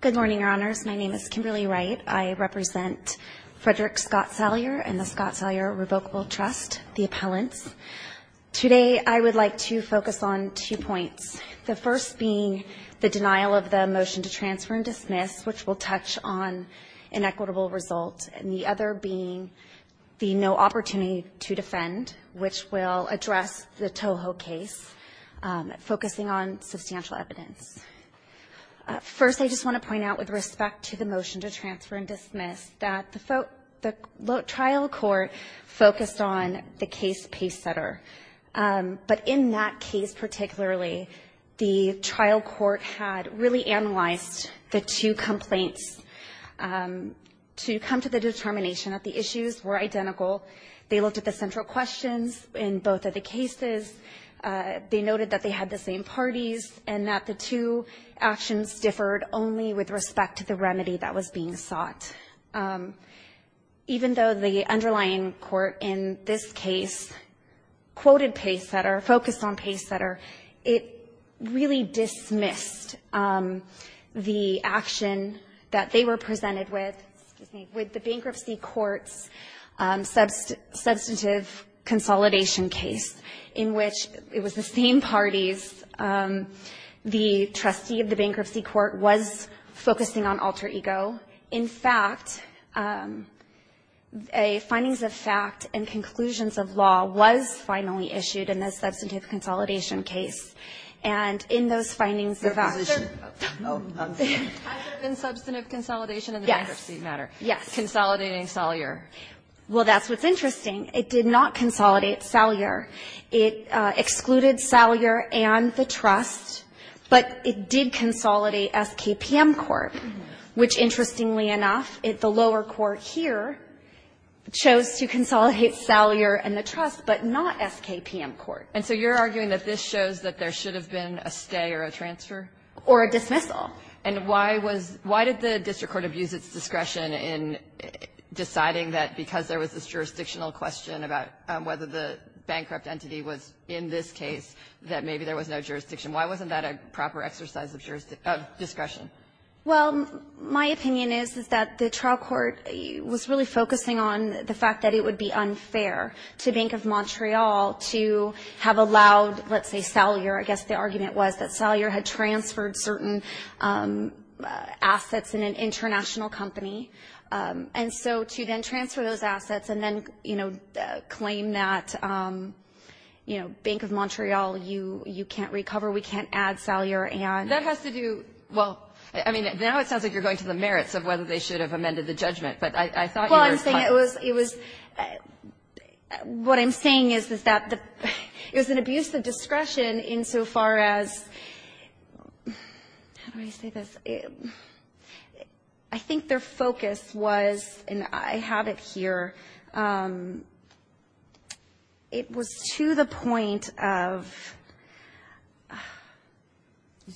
Good morning, Your Honors. My name is Kimberly Wright. I represent Frederick Scott Salyer and the Scott Salyer Revocable Trust, the appellants. Today, I would like to focus on two points, the first being the denial of the motion to transfer and dismiss, which will touch on inequitable result, and the other being the no opportunity to defend, which will address the Toho case, focusing on substantial evidence. First, I just want to point out, with respect to the motion to transfer and dismiss, that the trial court focused on the case pace setter, but in that case particularly, the trial court had really analyzed the two complaints to come to the determination that the issues were identical. They looked at the central questions in both of the cases. They noted that they had the same parties and that the two actions differed only with respect to the remedy that was being sought. Even though the underlying court in this case quoted pace setter, focused on pace setter, it really dismissed the action that they were presented with, with the bankruptcy court's substantive consolidation case, in which it was the same parties. The trustee of the bankruptcy court was focusing on alter ego. In fact, a findings of fact and conclusions of law was finally issued in the substantive consolidation case, and in those findings of fact. Kagan. Has there been substantive consolidation in the bankruptcy matter? Yes. Consolidating Salyer. Well, that's what's interesting. It did not consolidate Salyer. It excluded Salyer and the trust, but it did consolidate SKPM court, which, interestingly enough, the lower court here chose to consolidate Salyer and the trust, but not SKPM court. And so you're arguing that this shows that there should have been a stay or a transfer? Or a dismissal. And why was why did the district court abuse its discretion in deciding that because there was this jurisdictional question about whether the bankrupt entity was in this case that maybe there was no jurisdiction? Why wasn't that a proper exercise of discretion? Well, my opinion is, is that the trial court was really focusing on the fact that it would be unfair to Bank of Montreal to have allowed, let's say, Salyer. I guess the argument was that Salyer had transferred certain assets in an international company. And so to then transfer those assets and then, you know, claim that, you know, Bank of Montreal, you can't recover, we can't add Salyer, and that has to do well. I mean, now it sounds like you're going to the merits of whether they should have amended the judgment, but I thought you were. No, I'm not saying it was what I'm saying is, is that it was an abuse of discretion insofar as, how do I say this, I think their focus was, and I have it here, it was to the point of,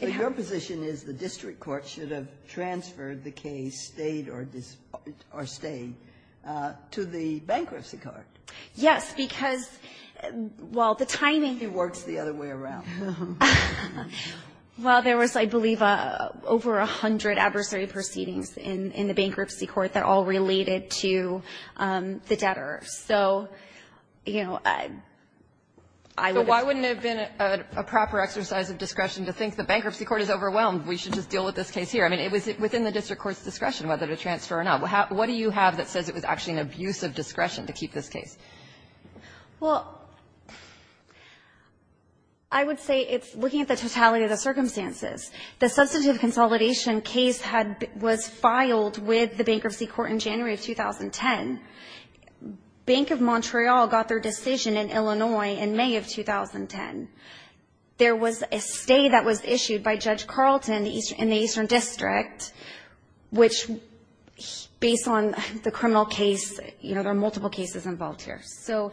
it had to be. So your position is the district court should have transferred the case, stayed or stayed, to the bankruptcy court. Yes, because while the timing ---- It works the other way around. Well, there was, I believe, over 100 adversary proceedings in the bankruptcy court that all related to the debtor. So, you know, I would have ---- So why wouldn't it have been a proper exercise of discretion to think the bankruptcy court is overwhelmed, we should just deal with this case here? I mean, it was within the district court's discretion whether to transfer or not. What do you have that says it was actually an abuse of discretion to keep this case? Well, I would say it's looking at the totality of the circumstances. The substantive consolidation case had been ---- was filed with the bankruptcy court in January of 2010. Bank of Montreal got their decision in Illinois in May of 2010. There was a stay that was issued by Judge Carlton in the Eastern District, which, based on the criminal case, you know, there are multiple cases involved here. So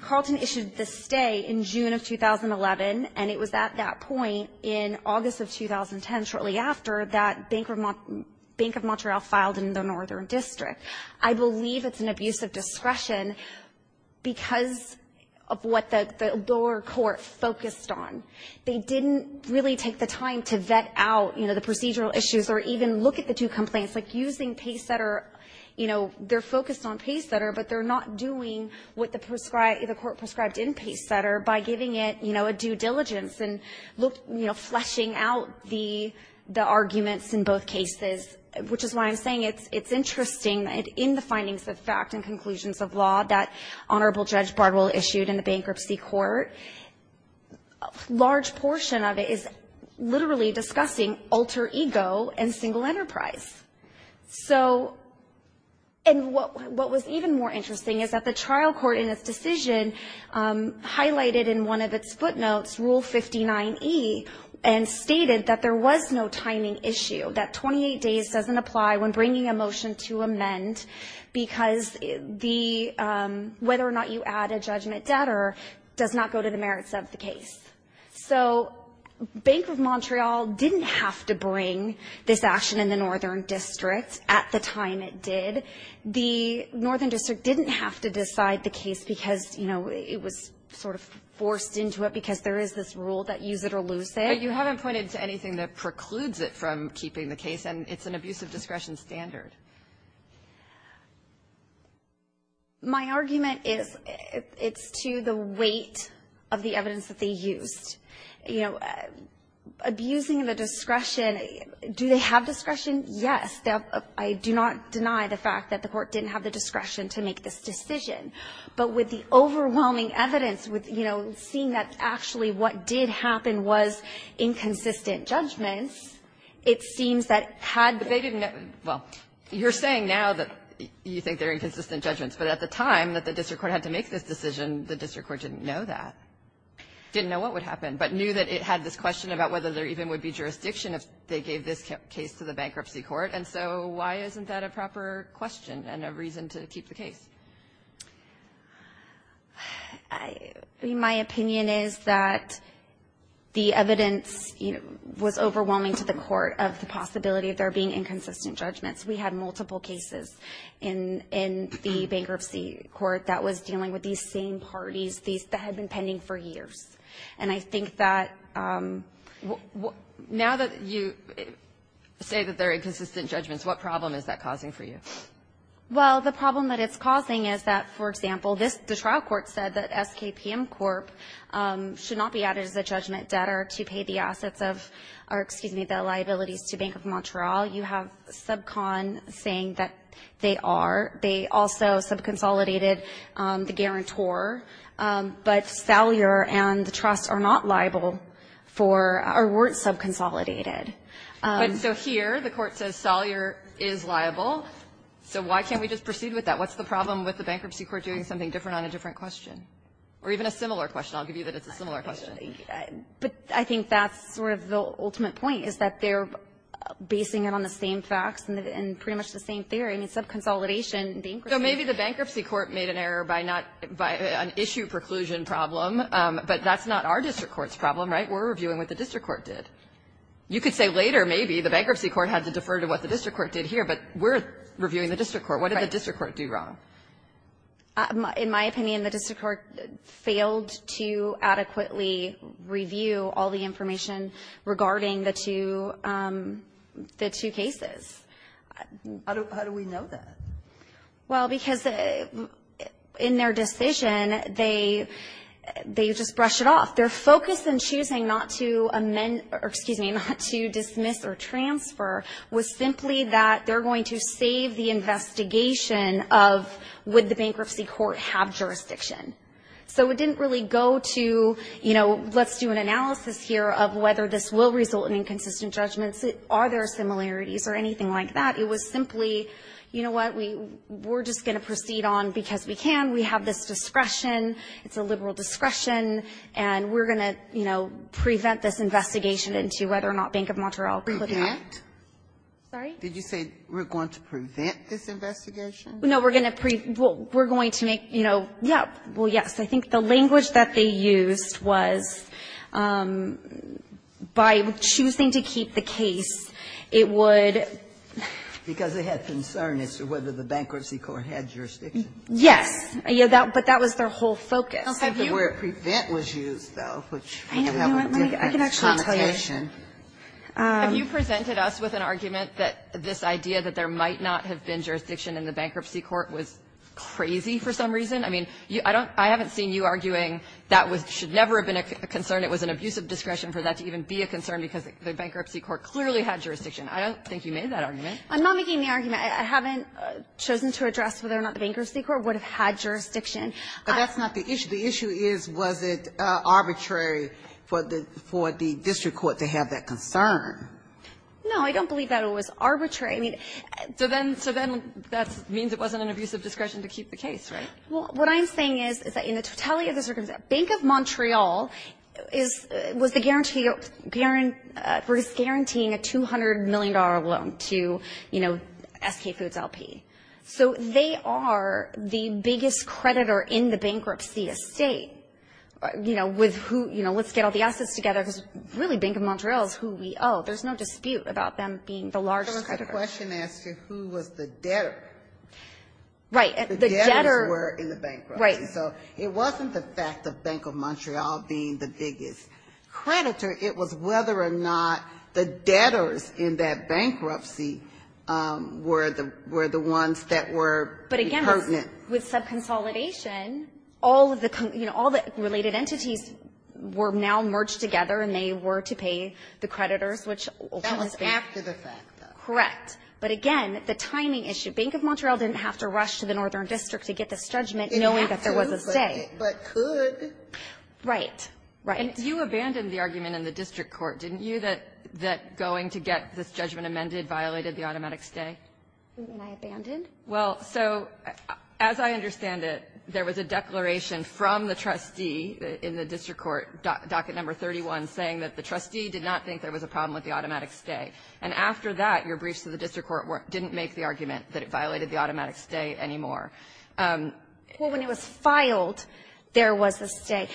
Carlton issued the stay in June of 2011, and it was at that point in August of 2010, shortly after, that Bank of Montreal filed in the Northern District. I believe it's an abuse of discretion because of what the lower court focused on. They didn't really take the time to vet out, you know, the procedural issues or even look at the two complaints, like using Paysetter, you know, they're focused on Paysetter, but they're not doing what the court prescribed in Paysetter by giving it, you know, a due diligence and look, you know, fleshing out the arguments in both cases, which is why I'm saying it's interesting. In the findings of fact and conclusions of law that Honorable Judge Bardwell issued in the bankruptcy court, a large portion of it is literally discussing alter ego and single enterprise. So, and what was even more interesting is that the trial court in its decision highlighted in one of its footnotes Rule 59E and stated that there was no timing issue, that 28 days doesn't apply when bringing a motion to amend because the whether or not you add a judgment debtor does not go to the merits of the case. So Bank of Montreal didn't have to bring this action in the Northern District at the time it did. The Northern District didn't have to decide the case because, you know, it was sort of forced into it because there is this rule that use it or lose it. But you haven't pointed to anything that precludes it from keeping the case, and it's an abuse of discretion standard. My argument is it's to the weight of the evidence that they used. You know, abusing the discretion, do they have discretion? Yes. I do not deny the fact that the court didn't have the discretion to make this decision. But with the overwhelming evidence, with, you know, seeing that actually what did happen was inconsistent judgments, it seems that had they been not, well, you're saying now that you think they're inconsistent judgments. But at the time that the district court had to make this decision, the district court didn't know that, didn't know what would happen, but knew that it had this question about whether there even would be jurisdiction if they gave this case to the bankruptcy court. And so why isn't that a proper question and a reason to keep the case? My opinion is that the evidence was overwhelming to the court of the possibility of there being inconsistent judgments. We had multiple cases in the bankruptcy court that was dealing with these same parties that had been pending for years. And I think that now that you say that they're inconsistent judgments, what problem is that causing for you? Well, the problem that it's causing is that, for example, this, the trial court said that SKPM Corp. should not be added as a judgment debtor to pay the assets of, or excuse me, the liabilities to Bank of Montreal. You have Subcon saying that they are. They also subconsolidated the guarantor. But Salyer and the trust are not liable for, or weren't subconsolidated. But so here the court says Salyer is liable. So why can't we just proceed with that? What's the problem with the bankruptcy court doing something different on a different question, or even a similar question? I'll give you that it's a similar question. But I think that's sort of the ultimate point, is that they're basing it on the same I mean, subconsolidation, bankruptcy. So maybe the bankruptcy court made an error by not, by an issue preclusion problem, but that's not our district court's problem, right? We're reviewing what the district court did. You could say later maybe the bankruptcy court had to defer to what the district court did here, but we're reviewing the district court. What did the district court do wrong? In my opinion, the district court failed to adequately review all the information regarding the two, the two cases. How do we know that? Well, because in their decision, they, they just brush it off. Their focus in choosing not to amend, or excuse me, not to dismiss or transfer was simply that they're going to save the investigation of would the bankruptcy court have jurisdiction. So it didn't really go to, you know, let's do an analysis here of whether this will result in inconsistent judgments. Are there similarities or anything like that? It was simply, you know what, we, we're just going to proceed on because we can. We have this discretion. It's a liberal discretion. And we're going to, you know, prevent this investigation into whether or not Bank of Montreal could have that. Sotomayor, did you say we're going to prevent this investigation? No, we're going to make, you know, yeah, well, yes. I think the language that they used was by choosing to keep the case, it would have been because they had concern as to whether the bankruptcy court had jurisdiction. Yes. But that was their whole focus. I don't think the word prevent was used, though, which would have a different connotation. Have you presented us with an argument that this idea that there might not have been jurisdiction in the bankruptcy court was crazy for some reason? I mean, I don't, I haven't seen you arguing that was, should never have been a concern, it was an abusive discretion for that to even be a concern because the bankruptcy court clearly had jurisdiction. I don't think you made that argument. I'm not making the argument. I haven't chosen to address whether or not the bankruptcy court would have had jurisdiction. But that's not the issue. The issue is, was it arbitrary for the district court to have that concern? No, I don't believe that it was arbitrary. I mean, so then that means it wasn't an abusive discretion to keep the case, right? Well, what I'm saying is, is that in the totality of the circumstances, Bank of Montreal is, was the guarantee, was guaranteeing a $200 million loan to, you know, SK Foods LP. So they are the biggest creditor in the bankruptcy estate, you know, with who, you know, let's get all the assets together because really Bank of Montreal is who we owe. There's no dispute about them being the largest creditor. The question asked you who was the debtor. Right. The debtors were in the bankruptcy. So it wasn't the fact that Bank of Montreal being the biggest creditor, it was whether or not the debtors in that bankruptcy were the, were the ones that were pertinent. But again, with subconsolidation, all of the, you know, all the related entities were now merged together and they were to pay the creditors, which was after the fact. Correct. But again, the timing issue, Bank of Montreal didn't have to rush to the bankruptcy. But could. Right. Right. And you abandoned the argument in the district court, didn't you, that, that going to get this judgment amended violated the automatic stay? You mean I abandoned? Well, so, as I understand it, there was a declaration from the trustee in the district court, docket number 31, saying that the trustee did not think there was a problem with the automatic stay. And after that, your briefs to the district court didn't make the argument that it violated the automatic stay anymore. Well, when it was finalized, it was finalized. And when it was filed, there was a stay.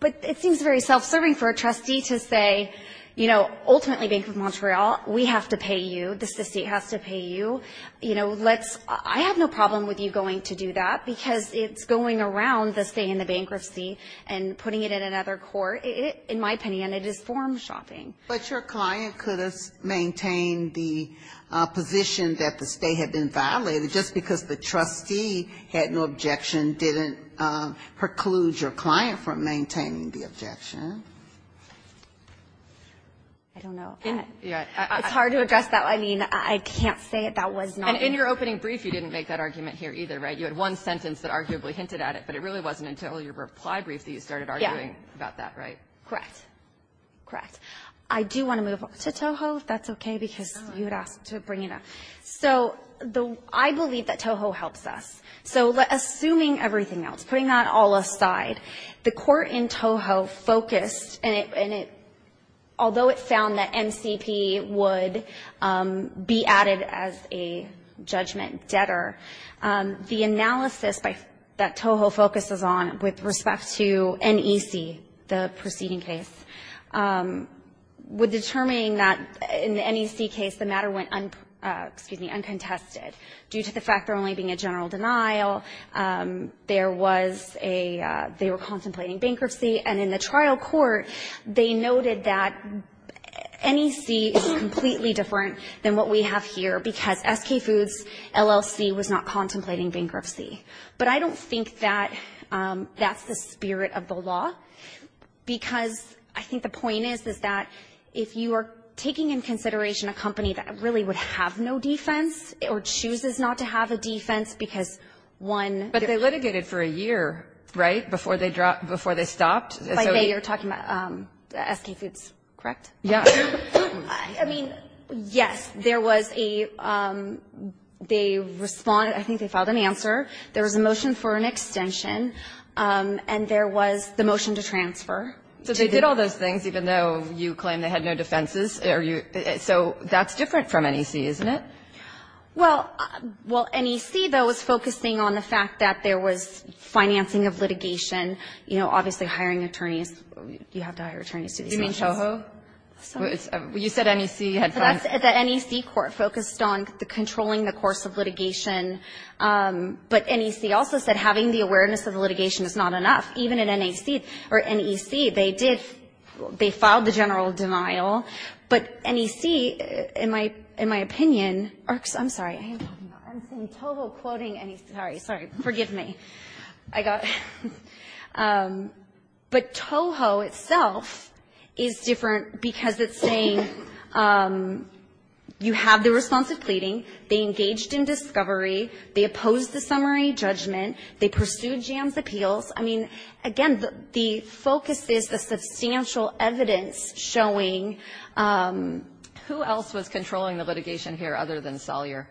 But it seems very self-serving for a trustee to say, you know, ultimately Bank of Montreal, we have to pay you, the state has to pay you, you know, let's, I have no problem with you going to do that, because it's going around the stay and the bankruptcy and putting it in another court, in my opinion, it is form-shopping. But your client could have maintained the position that the stay had been violated, and that doesn't preclude your client from maintaining the objection. I don't know. It's hard to address that. I mean, I can't say it. That was not my point. And in your opening brief, you didn't make that argument here either, right? You had one sentence that arguably hinted at it, but it really wasn't until your reply brief that you started arguing about that, right? Correct. Correct. I do want to move on to Toho, if that's okay, because you had asked to bring it up. So I believe that Toho helps us. So assuming everything else, putting that all aside, the court in Toho focused and it, although it found that MCP would be added as a judgment debtor, the analysis that Toho focuses on with respect to NEC, the preceding case, would determine that in the NEC case, the matter went, excuse me, uncontested due to the fact there only being a general denial. There was a, they were contemplating bankruptcy. And in the trial court, they noted that NEC is completely different than what we have here, because SK Foods LLC was not contemplating bankruptcy. But I don't think that that's the spirit of the law, because I think the point is, is that if you are taking in consideration a company that really would have no defense, or chooses not to have a defense, because one But they litigated for a year, right, before they dropped, before they stopped. By they, you're talking about SK Foods, correct? Yeah. I mean, yes, there was a, they responded, I think they filed an answer. There was a motion for an extension. And there was the motion to transfer. So they did all those things, even though you claim they had no defenses? So that's different from NEC, isn't it? Well, NEC, though, was focusing on the fact that there was financing of litigation. You know, obviously hiring attorneys, you have to hire attorneys to do these motions. You mean CHOHO? You said NEC had funds. The NEC court focused on the controlling the course of litigation. But NEC also said having the awareness of the litigation is not enough. Even in NEC, they did, they filed the general denial. But NEC, in my opinion, I'm sorry, I'm saying CHOHO quoting NEC. Sorry, sorry. Forgive me. I got. But CHOHO itself is different because it's saying you have the response of pleading. They engaged in discovery. They opposed the summary judgment. They pursued JAMS appeals. I mean, again, the focus is the substantial evidence showing that NEC is not the only one. Who else was controlling the litigation here other than Salyer?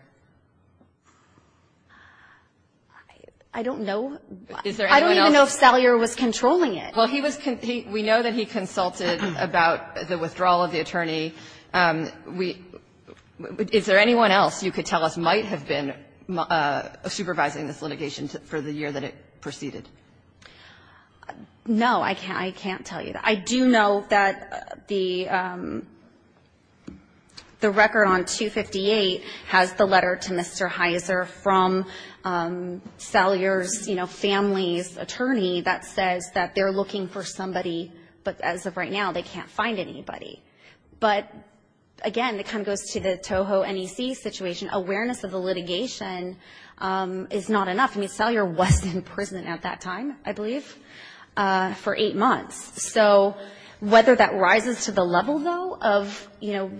I don't know. Is there anyone else? I don't even know if Salyer was controlling it. Well, he was. We know that he consulted about the withdrawal of the attorney. Is there anyone else you could tell us might have been supervising this litigation for the year that it proceeded? No, I can't. I can't tell you that. I do know that the record on 258 has the letter to Mr. Heiser from Salyer's family's attorney that says that they're looking for somebody. But as of right now, they can't find anybody. But again, it kind of goes to the CHOHO NEC situation. Awareness of the litigation is not enough. I mean, Salyer was in prison at that time, I believe, for eight months. So whether that rises to the level, though, of, you know,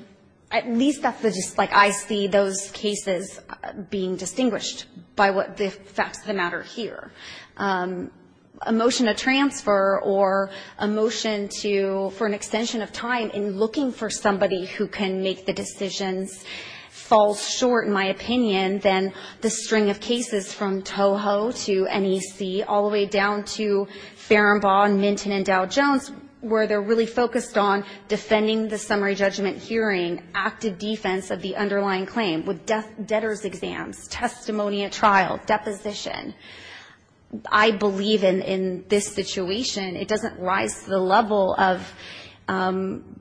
at least that's just like I see those cases being distinguished by the facts of the matter here. A motion to transfer or a motion for an extension of time in looking for somebody who can make the decisions falls short, in my opinion, than the string of cases from CHOHO to NEC all the way down to Farrenbaugh and Minton and Dow Jones where they're really focused on defending the summary judgment hearing, active defense of the underlying claim with debtors' exams, testimony at trial, deposition. I believe in this situation, it doesn't rise to the level of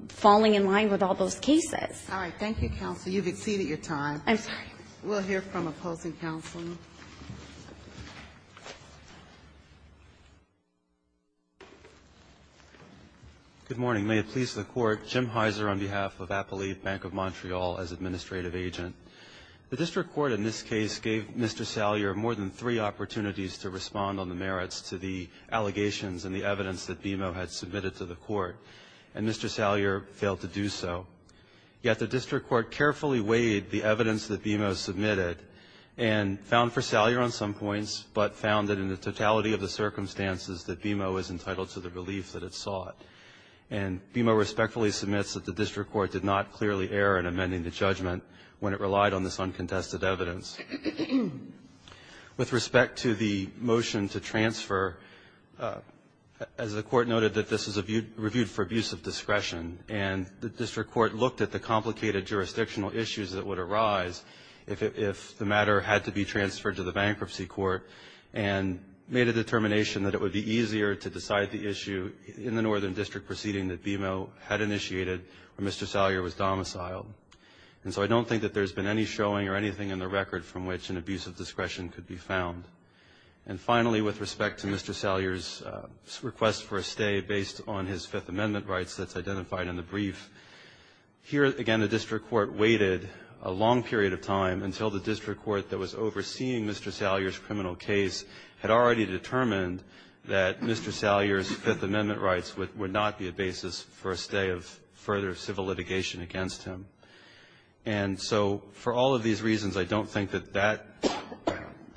falling in line with all those cases. All right, thank you, counsel. You've exceeded your time. I'm sorry. We'll hear from opposing counsel. Thank you. Good morning. May it please the Court. Jim Heiser on behalf of Apple Leaf Bank of Montreal as administrative agent. The district court in this case gave Mr. Salyer more than three opportunities to respond on the merits to the allegations and the evidence that BMO had submitted to the Court and Mr. Salyer failed to do so. Yet the district court carefully weighed the evidence that BMO submitted and found for Salyer on some points, but found that in the totality of the circumstances that BMO was entitled to the relief that it sought. And BMO respectfully submits that the district court did not clearly err in amending the judgment when it relied on this uncontested evidence. With respect to the motion to transfer, as the court noted that this is reviewed for abuse of discretion and the district court looked at the complicated jurisdictional issues that would arise if the matter had to be transferred to the bankruptcy court and made a determination that it would be easier to decide the issue in the northern district proceeding that BMO had initiated when Mr. Salyer was domiciled. And so I don't think that there's been any showing or anything in the record from which an abuse of discretion could be found. And finally, with respect to Mr. Salyer's request for a stay based on his Fifth Amendment rights that's identified in the brief, here, again, the district court waited a long period of time until the district court that was overseeing Mr. Salyer's criminal case had already determined that Mr. Salyer's Fifth Amendment rights would not be a basis for a stay of further civil litigation against him. And so for all of these reasons, I don't think that that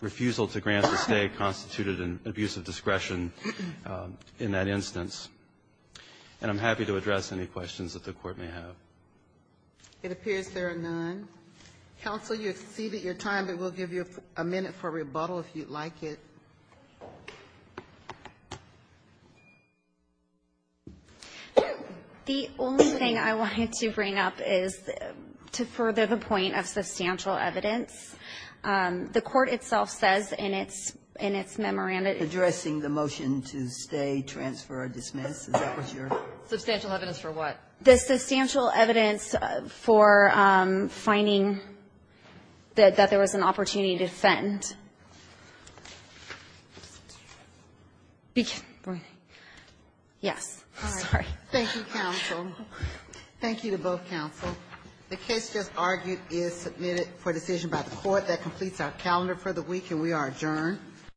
refusal to grant a stay constituted an abuse of discretion in that instance. And I'm happy to address any questions that the court may have. It appears there are none. Counsel, you've exceeded your time, but we'll give you a minute for rebuttal if you'd like it. The only thing I wanted to bring up is to further the point of substantial evidence. The court itself says in its memorandum Addressing the motion to stay, transfer, or dismiss? Substantial evidence for what? Substantial evidence for finding that there was an opportunity to defend. Yes, sorry. Thank you, counsel. Thank you to both counsel. The case just argued is submitted for decision by the court. That completes our calendar for the week, and we are adjourned.